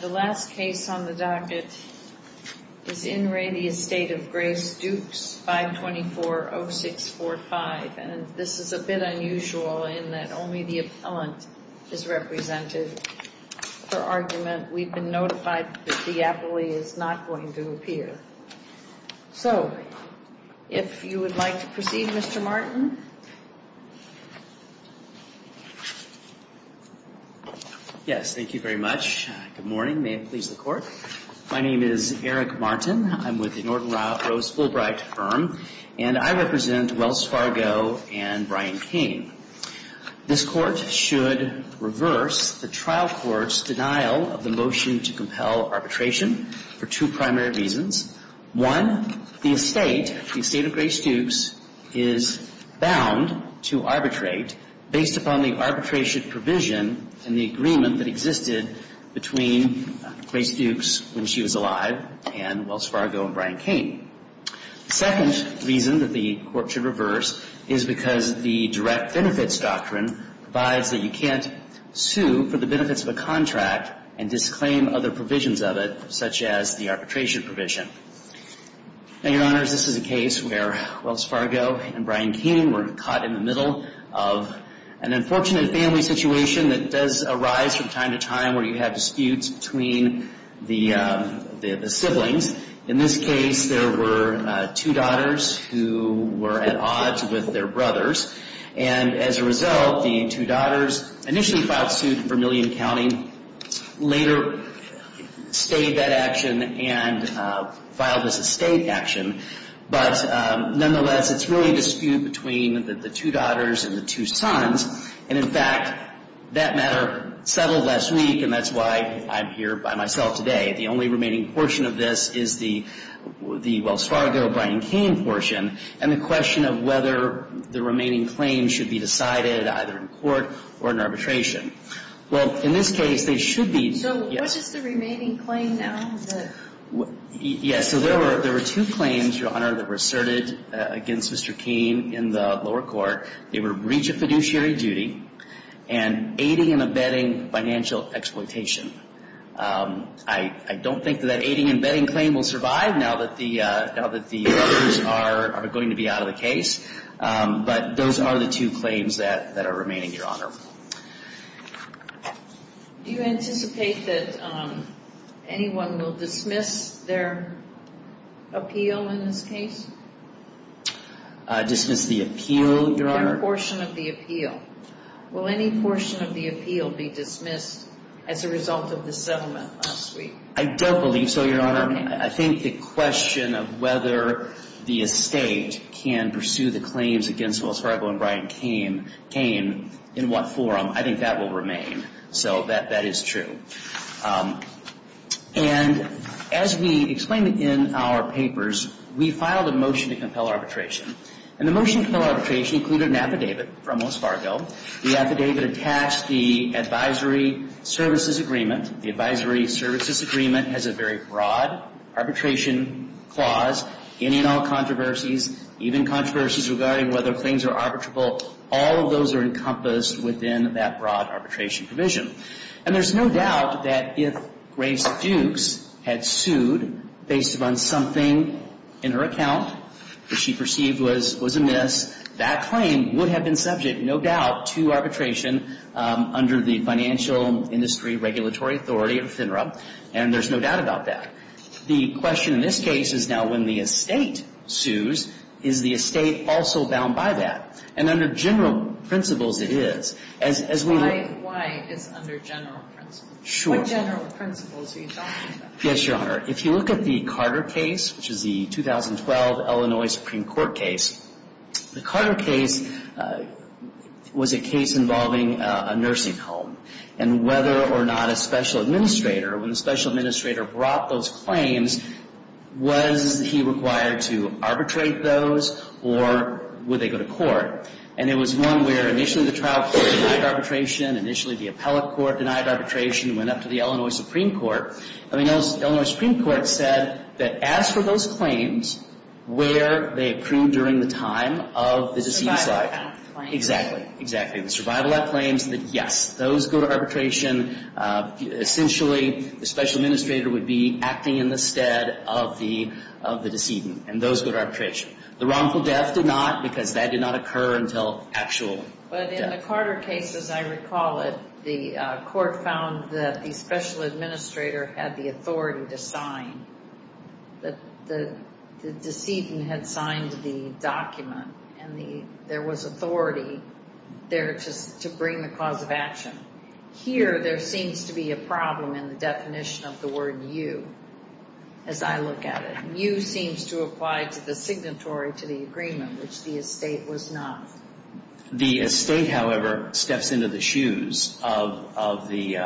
The last case on the docket is In Re the Estate of Grace, Dukes 524-0645, and this is a bit unusual in that only the appellant is represented for argument. We've been notified that the appellee is not going to appear. So if you would like to proceed, Mr. Martin. Yes, thank you very much. Good morning. May it please the Court. My name is Eric Martin. I'm with the Norton Ralph Rose Fulbright firm, and I represent Wells Fargo and Brian King. This Court should reverse the trial court's denial of the motion to compel arbitration for two primary reasons. One, the estate, the Estate of Grace, Dukes, is bound to arbitrate based upon the arbitration provision and the arbitration provision. Now, the reason that the Court should reverse the trial court's denial of the motion to compel arbitration for two primary reasons is because the direct benefits doctrine provides that you can't sue for the benefits of a contract and disclaim other provisions of it, such as the arbitration provision. Now, Your Honors, this is a case where Wells Fargo and Brian King were caught in the middle of an unfortunate family situation that does arise from time to time where you have disputes between the siblings. In this case, there were two daughters who were at odds with their brothers. And as a result, the two daughters initially filed suit in Vermillion County, later stayed that action and filed as estate action. But nonetheless, it's really a dispute between the two daughters and the two sons. And in fact, that matter settled last week, and that's why I'm here by myself today. The only remaining portion of this is the Wells Fargo-Brian King portion and the question of whether the remaining claims should be decided either in court or in arbitration. Well, in this case, they should be. So what's just the remaining claim now? Yes, so there were two claims, Your Honor, that were asserted against Mr. King in the lower court. They were breach of fiduciary duty and aiding and abetting financial exploitation. I don't think that that aiding and abetting claim will survive now that the brothers are going to be out of the case. But those are the two claims that are remaining, Your Honor. Do you anticipate that anyone will dismiss their appeal in this case? Dismiss the appeal, Your Honor? Their portion of the appeal. Will any portion of the appeal be dismissed as a result of the settlement last week? I don't believe so, Your Honor. Your Honor, I think the question of whether the estate can pursue the claims against Wells Fargo and Brian King in what form, I think that will remain. So that is true. And as we explained in our papers, we filed a motion to compel arbitration. And the motion to compel arbitration included an affidavit from Wells Fargo. The affidavit attached the advisory services agreement. The advisory services agreement has a very broad arbitration clause. Any and all controversies, even controversies regarding whether claims are arbitrable, all of those are encompassed within that broad arbitration provision. And there's no doubt that if Grace Fuchs had sued based upon something in her account that she perceived was amiss, that claim would have been subject, no doubt, to arbitration under the financial industry regulatory authority of FINRA. And there's no doubt about that. The question in this case is now when the estate sues, is the estate also bound by that? And under general principles, it is. Why is it under general principles? What general principles are you talking about? Yes, Your Honor. If you look at the Carter case, which is the 2012 Illinois Supreme Court case, the Carter case was a case involving a nursing home. And whether or not a special administrator, when the special administrator brought those claims, was he required to arbitrate those or would they go to court? And it was one where initially the trial court denied arbitration, initially the appellate court denied arbitration, went up to the Illinois Supreme Court. I mean, Illinois Supreme Court said that as for those claims, where they accrued during the time of the decedent's life. Survival Act claims. Exactly, exactly. The Survival Act claims that, yes, those go to arbitration. Essentially, the special administrator would be acting in the stead of the decedent, and those go to arbitration. The wrongful death did not, because that did not occur until actual death. But in the Carter case, as I recall it, the court found that the special administrator had the authority to sign. The decedent had signed the document, and there was authority there to bring the cause of action. Here, there seems to be a problem in the definition of the word you, as I look at it. You seems to apply to the signatory to the agreement, which the estate was not. The estate, however, steps into the shoes of the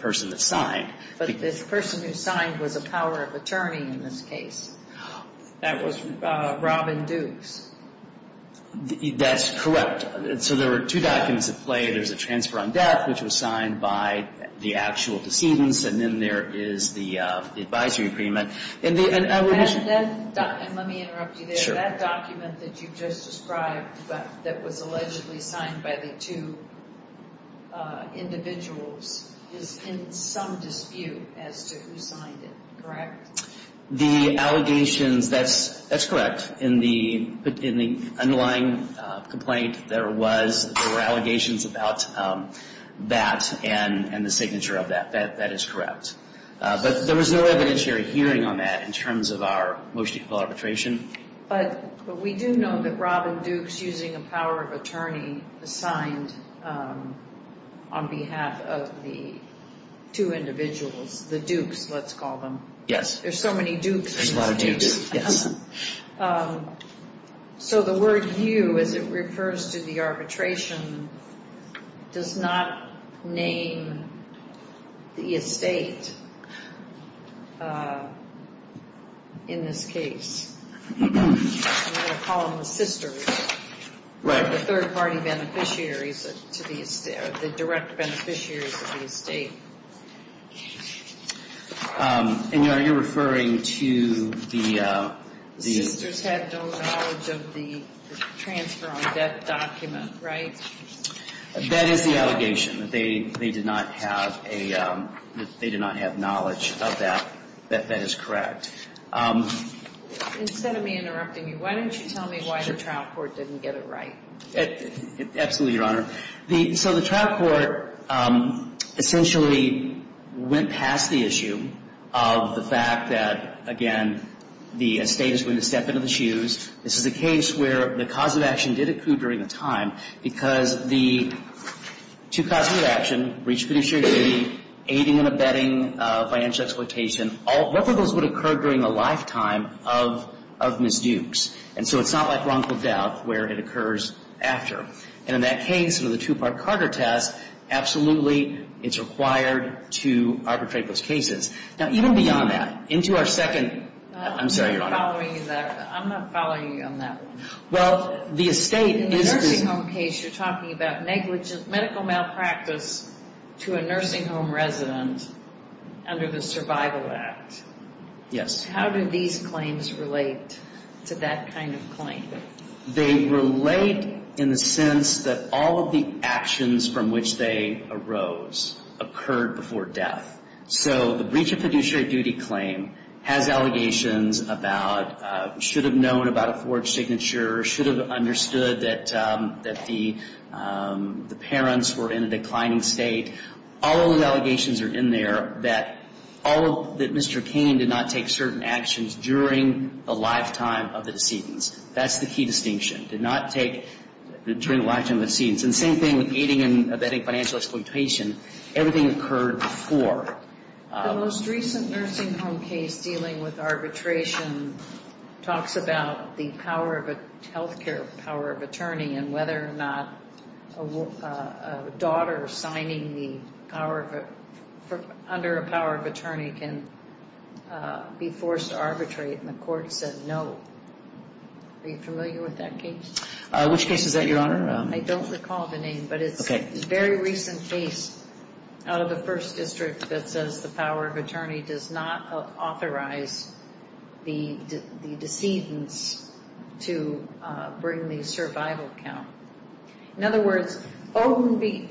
person that signed. But this person who signed was a power of attorney in this case. That was Robin Dukes. That's correct. So there were two documents at play. There's a transfer on death, which was signed by the actual decedent, and then there is the advisory agreement. Let me interrupt you there. That document that you just described that was allegedly signed by the two individuals is in some dispute as to who signed it. Correct? The allegations, that's correct. In the underlying complaint, there were allegations about that and the signature of that. That is correct. But there was no evidentiary hearing on that in terms of our motion to call arbitration. But we do know that Robin Dukes, using a power of attorney, signed on behalf of the two individuals, the dukes, let's call them. Yes. There's so many dukes in this case. There's a lot of dukes, yes. So the word you, as it refers to the arbitration, does not name the estate in this case. We're going to call them the sisters. Right. The third-party beneficiaries, the direct beneficiaries of the estate. And, Your Honor, you're referring to the — The sisters had no knowledge of the transfer on debt document, right? That is the allegation, that they did not have knowledge of that. That is correct. Instead of me interrupting you, why don't you tell me why the trial court didn't get it right? Absolutely, Your Honor. So the trial court essentially went past the issue of the fact that, again, the estate is going to step into the shoes. This is a case where the cause of action did occur during the time because the two causes of action, breach of fiduciary duty, aiding and abetting financial exploitation, all of those would occur during the lifetime of Ms. Dukes. And so it's not like wrongful death where it occurs after. And in that case, with the two-part Carter test, absolutely it's required to arbitrate those cases. Now, even beyond that, into our second — I'm sorry, Your Honor. I'm not following you on that one. Well, the estate is — In the nursing home case, you're talking about negligent medical malpractice to a nursing home resident under the Survival Act. Yes. How do these claims relate to that kind of claim? They relate in the sense that all of the actions from which they arose occurred before death. So the breach of fiduciary duty claim has allegations about should have known about a forged signature, should have understood that the parents were in a declining state. All of those allegations are in there that Mr. Cain did not take certain actions during the lifetime of the decedents. That's the key distinction, did not take — during the lifetime of the decedents. And same thing with aiding and abetting financial exploitation. Everything occurred before. The most recent nursing home case dealing with arbitration talks about the power of a — health care power of attorney and whether or not a daughter signing the power of — under a power of attorney can be forced to arbitrate. And the court said no. Are you familiar with that case? Which case is that, Your Honor? I don't recall the name, but it's a very recent case out of the First District that says the power of attorney does not authorize the decedents to bring the survival count. In other words, Odin v.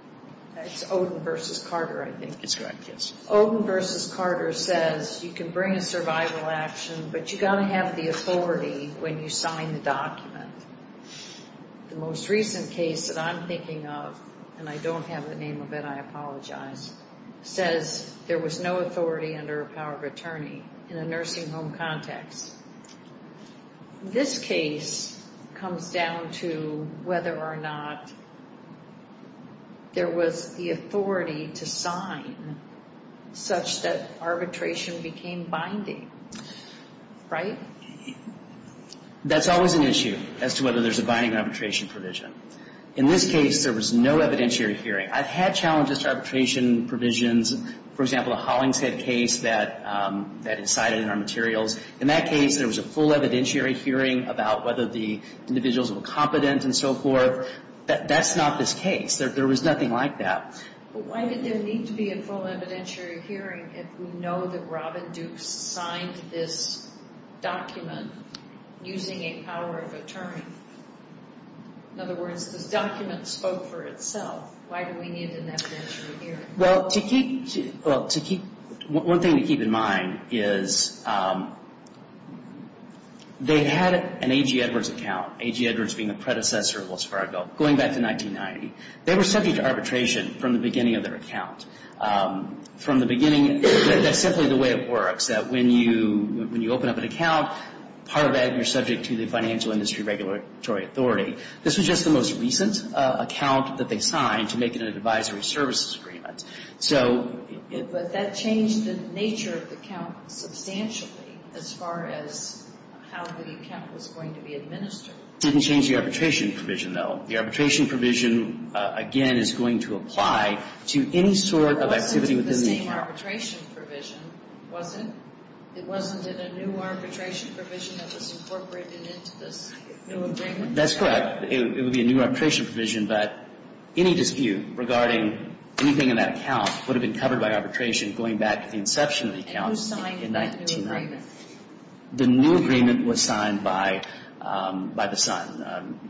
— it's Odin v. Carter, I think. That's correct, yes. Odin v. Carter says you can bring a survival action, but you've got to have the authority when you sign the document. The most recent case that I'm thinking of, and I don't have the name of it, I apologize, says there was no authority under a power of attorney in a nursing home context. This case comes down to whether or not there was the authority to sign such that arbitration became binding, right? That's always an issue as to whether there's a binding arbitration provision. In this case, there was no evidentiary hearing. I've had challenges to arbitration provisions. For example, a Hollingshead case that incited in our materials. In that case, there was a full evidentiary hearing about whether the individuals were competent and so forth. That's not this case. There was nothing like that. But why did there need to be a full evidentiary hearing if we know that Robin Duke signed this document using a power of attorney? In other words, the document spoke for itself. Why do we need an evidentiary hearing? Well, to keep one thing to keep in mind is they had an A.G. Edwards account. A.G. Edwards being the predecessor of Wells Fargo going back to 1990. They were subject to arbitration from the beginning of their account. From the beginning, that's simply the way it works, that when you open up an account, part of it you're subject to the financial industry regulatory authority. This was just the most recent account that they signed to make it an advisory services agreement. But that changed the nature of the account substantially as far as how the account was going to be administered. It didn't change the arbitration provision, though. The arbitration provision, again, is going to apply to any sort of activity within the account. It wasn't in the same arbitration provision, was it? It wasn't in a new arbitration provision that was incorporated into this new agreement? That's correct. It would be a new arbitration provision, but any dispute regarding anything in that account would have been covered by arbitration going back to the inception of the account in 1990. And who signed that new agreement? The new agreement was signed by the son,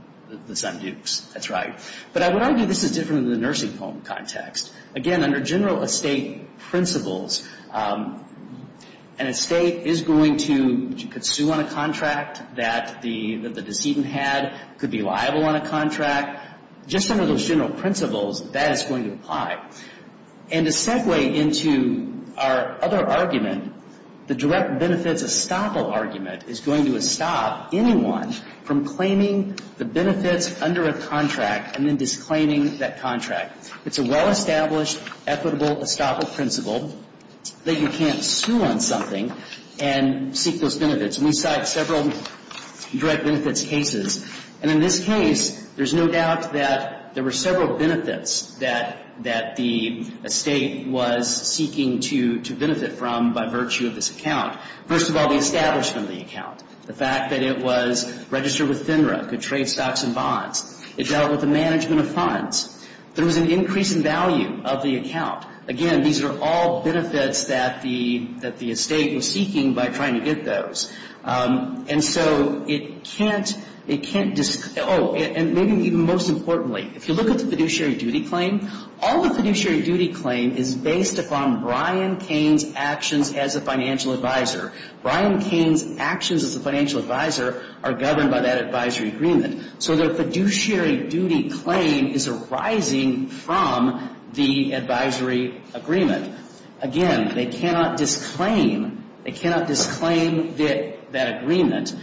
the son Dukes. That's right. But I would argue this is different in the nursing home context. Again, under general estate principles, an estate is going to sue on a contract that the decedent had, could be liable on a contract. Just under those general principles, that is going to apply. And to segue into our other argument, the direct benefits estoppel argument is going to estop anyone from claiming the benefits under a contract and then disclaiming that contract. It's a well-established equitable estoppel principle that you can't sue on something and seek those benefits. And we cite several direct benefits cases. And in this case, there's no doubt that there were several benefits that the estate was seeking to benefit from by virtue of this account. First of all, the establishment of the account. The fact that it was registered with FINRA, could trade stocks and bonds. It dealt with the management of funds. There was an increase in value of the account. Again, these are all benefits that the estate was seeking by trying to get those. And so it can't, it can't, oh, and maybe even most importantly, if you look at the fiduciary duty claim, all the fiduciary duty claim is based upon Brian Kane's actions as a financial advisor. Brian Kane's actions as a financial advisor are governed by that advisory agreement. So the fiduciary duty claim is arising from the advisory agreement. Again, they cannot disclaim, they cannot disclaim that agreement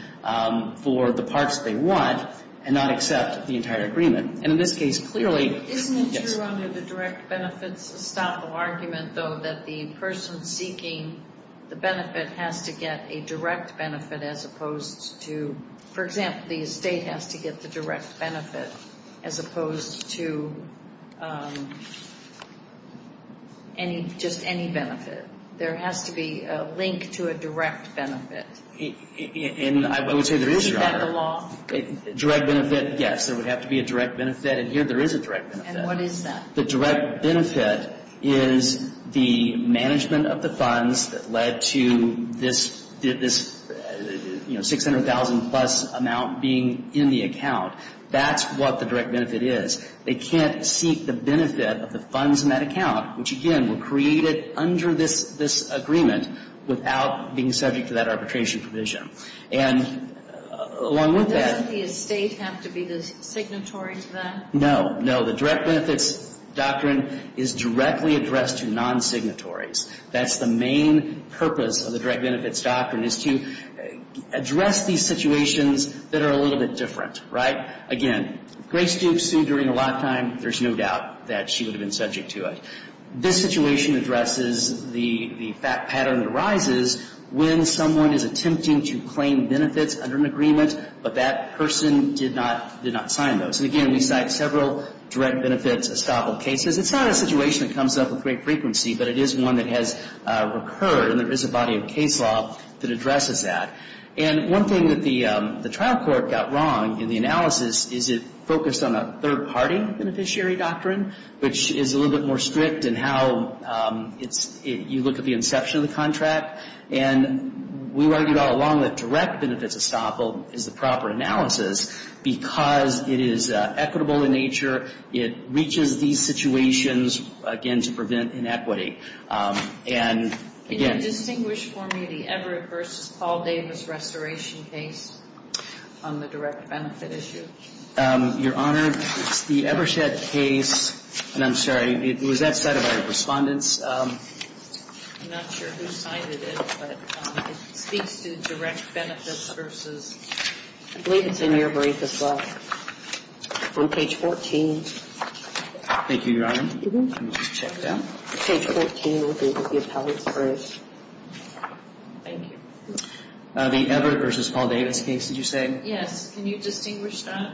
for the parts they want and not accept the entire agreement. And in this case, clearly, yes. Isn't it true under the direct benefits estoppel argument, though, that the person seeking the benefit has to get a direct benefit as opposed to, for example, the estate has to get the direct benefit as opposed to any, just any benefit? There has to be a link to a direct benefit. And I would say there is, Your Honor. Is that the law? Direct benefit, yes. There would have to be a direct benefit. And here there is a direct benefit. And what is that? The direct benefit is the management of the funds that led to this, you know, $600,000 plus amount being in the account. That's what the direct benefit is. They can't seek the benefit of the funds in that account, which, again, were created under this agreement without being subject to that arbitration provision. And along with that — Doesn't the estate have to be the signatory to that? No. No, the direct benefits doctrine is directly addressed to non-signatories. That's the main purpose of the direct benefits doctrine, is to address these situations that are a little bit different, right? Again, if Grace Duke sued during her lifetime, there's no doubt that she would have been subject to it. This situation addresses the pattern that arises when someone is attempting to claim benefits under an agreement, but that person did not sign those. And, again, we cite several direct benefits estoppel cases. It's not a situation that comes up with great frequency, but it is one that has recurred and there is a body of case law that addresses that. And one thing that the trial court got wrong in the analysis is it focused on a third-party beneficiary doctrine, which is a little bit more strict in how you look at the inception of the contract. And we argued all along that direct benefits estoppel is the proper analysis because it is equitable in nature. It reaches these situations, again, to prevent inequity. And, again ---- Can you distinguish for me the Everett v. Paul Davis restoration case on the direct benefit issue? Your Honor, the Evershed case, and I'm sorry, it was that side of our respondents. I'm not sure who cited it, but it speaks to direct benefits versus ---- I believe it's in your brief as well. On page 14. Thank you, Your Honor. Let me just check that. Page 14 will be with the appellate's brief. Thank you. The Everett v. Paul Davis case, did you say? Yes. Can you distinguish that?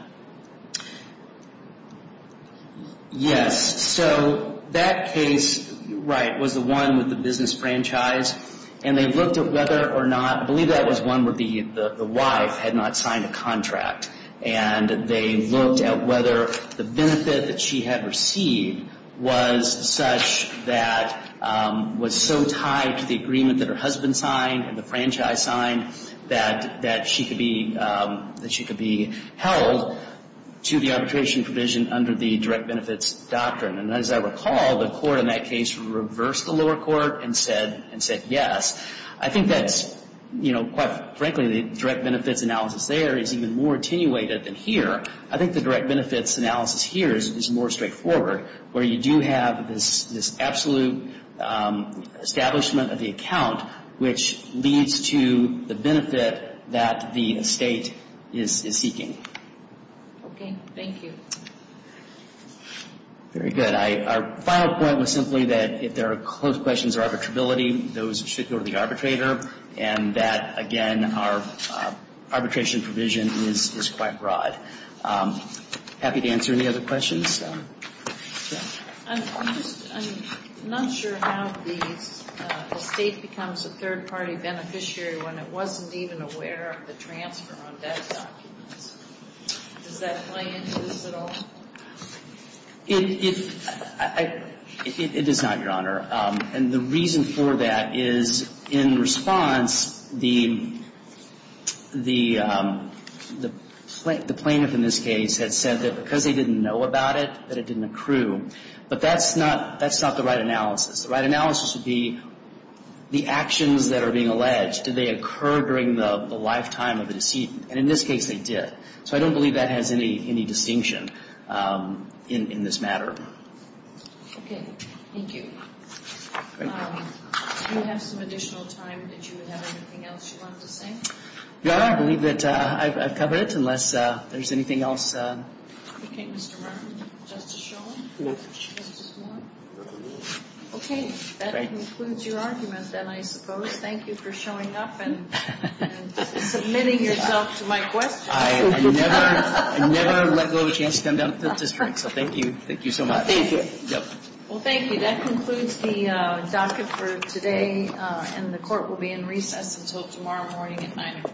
Yes. So that case, right, was the one with the business franchise, and they looked at whether or not, I believe that was one where the wife had not signed a contract, and they looked at whether the benefit that she had received was such that was so tied to the agreement that her husband signed and the franchise signed that she could be held to the arbitration provision under the direct benefits doctrine. And as I recall, the court in that case reversed the lower court and said yes. I think that's, you know, quite frankly, the direct benefits analysis there is even more attenuated than here. I think the direct benefits analysis here is more straightforward, where you do have this absolute establishment of the account, which leads to the benefit that the estate is seeking. Okay. Thank you. Very good. Our final point was simply that if there are questions of arbitrability, those should go to the arbitrator, and that, again, our arbitration provision is quite broad. Happy to answer any other questions. I'm just not sure how the estate becomes a third-party beneficiary when it wasn't even aware of the transfer on debt documents. Does that play into this at all? It does not, Your Honor. And the reason for that is in response, the plaintiff in this case had said that because they didn't know about it, that it didn't accrue. But that's not the right analysis. The right analysis would be the actions that are being alleged. Did they occur during the lifetime of the decedent? And in this case, they did. So I don't believe that has any distinction in this matter. Okay. Thank you. Do you have some additional time that you would have anything else you wanted to say? Your Honor, I believe that I've covered it, unless there's anything else. Okay. Mr. Martin. Justice Schoen? Yes. Justice Moore? Yes. Okay. That concludes your argument, then, I suppose. Thank you for showing up and submitting yourself to my questions. I never let go of a chance to come down to the district. So thank you. Thank you so much. Thank you. Well, thank you. That concludes the docket for today, and the court will be in recess until tomorrow morning at 9 o'clock.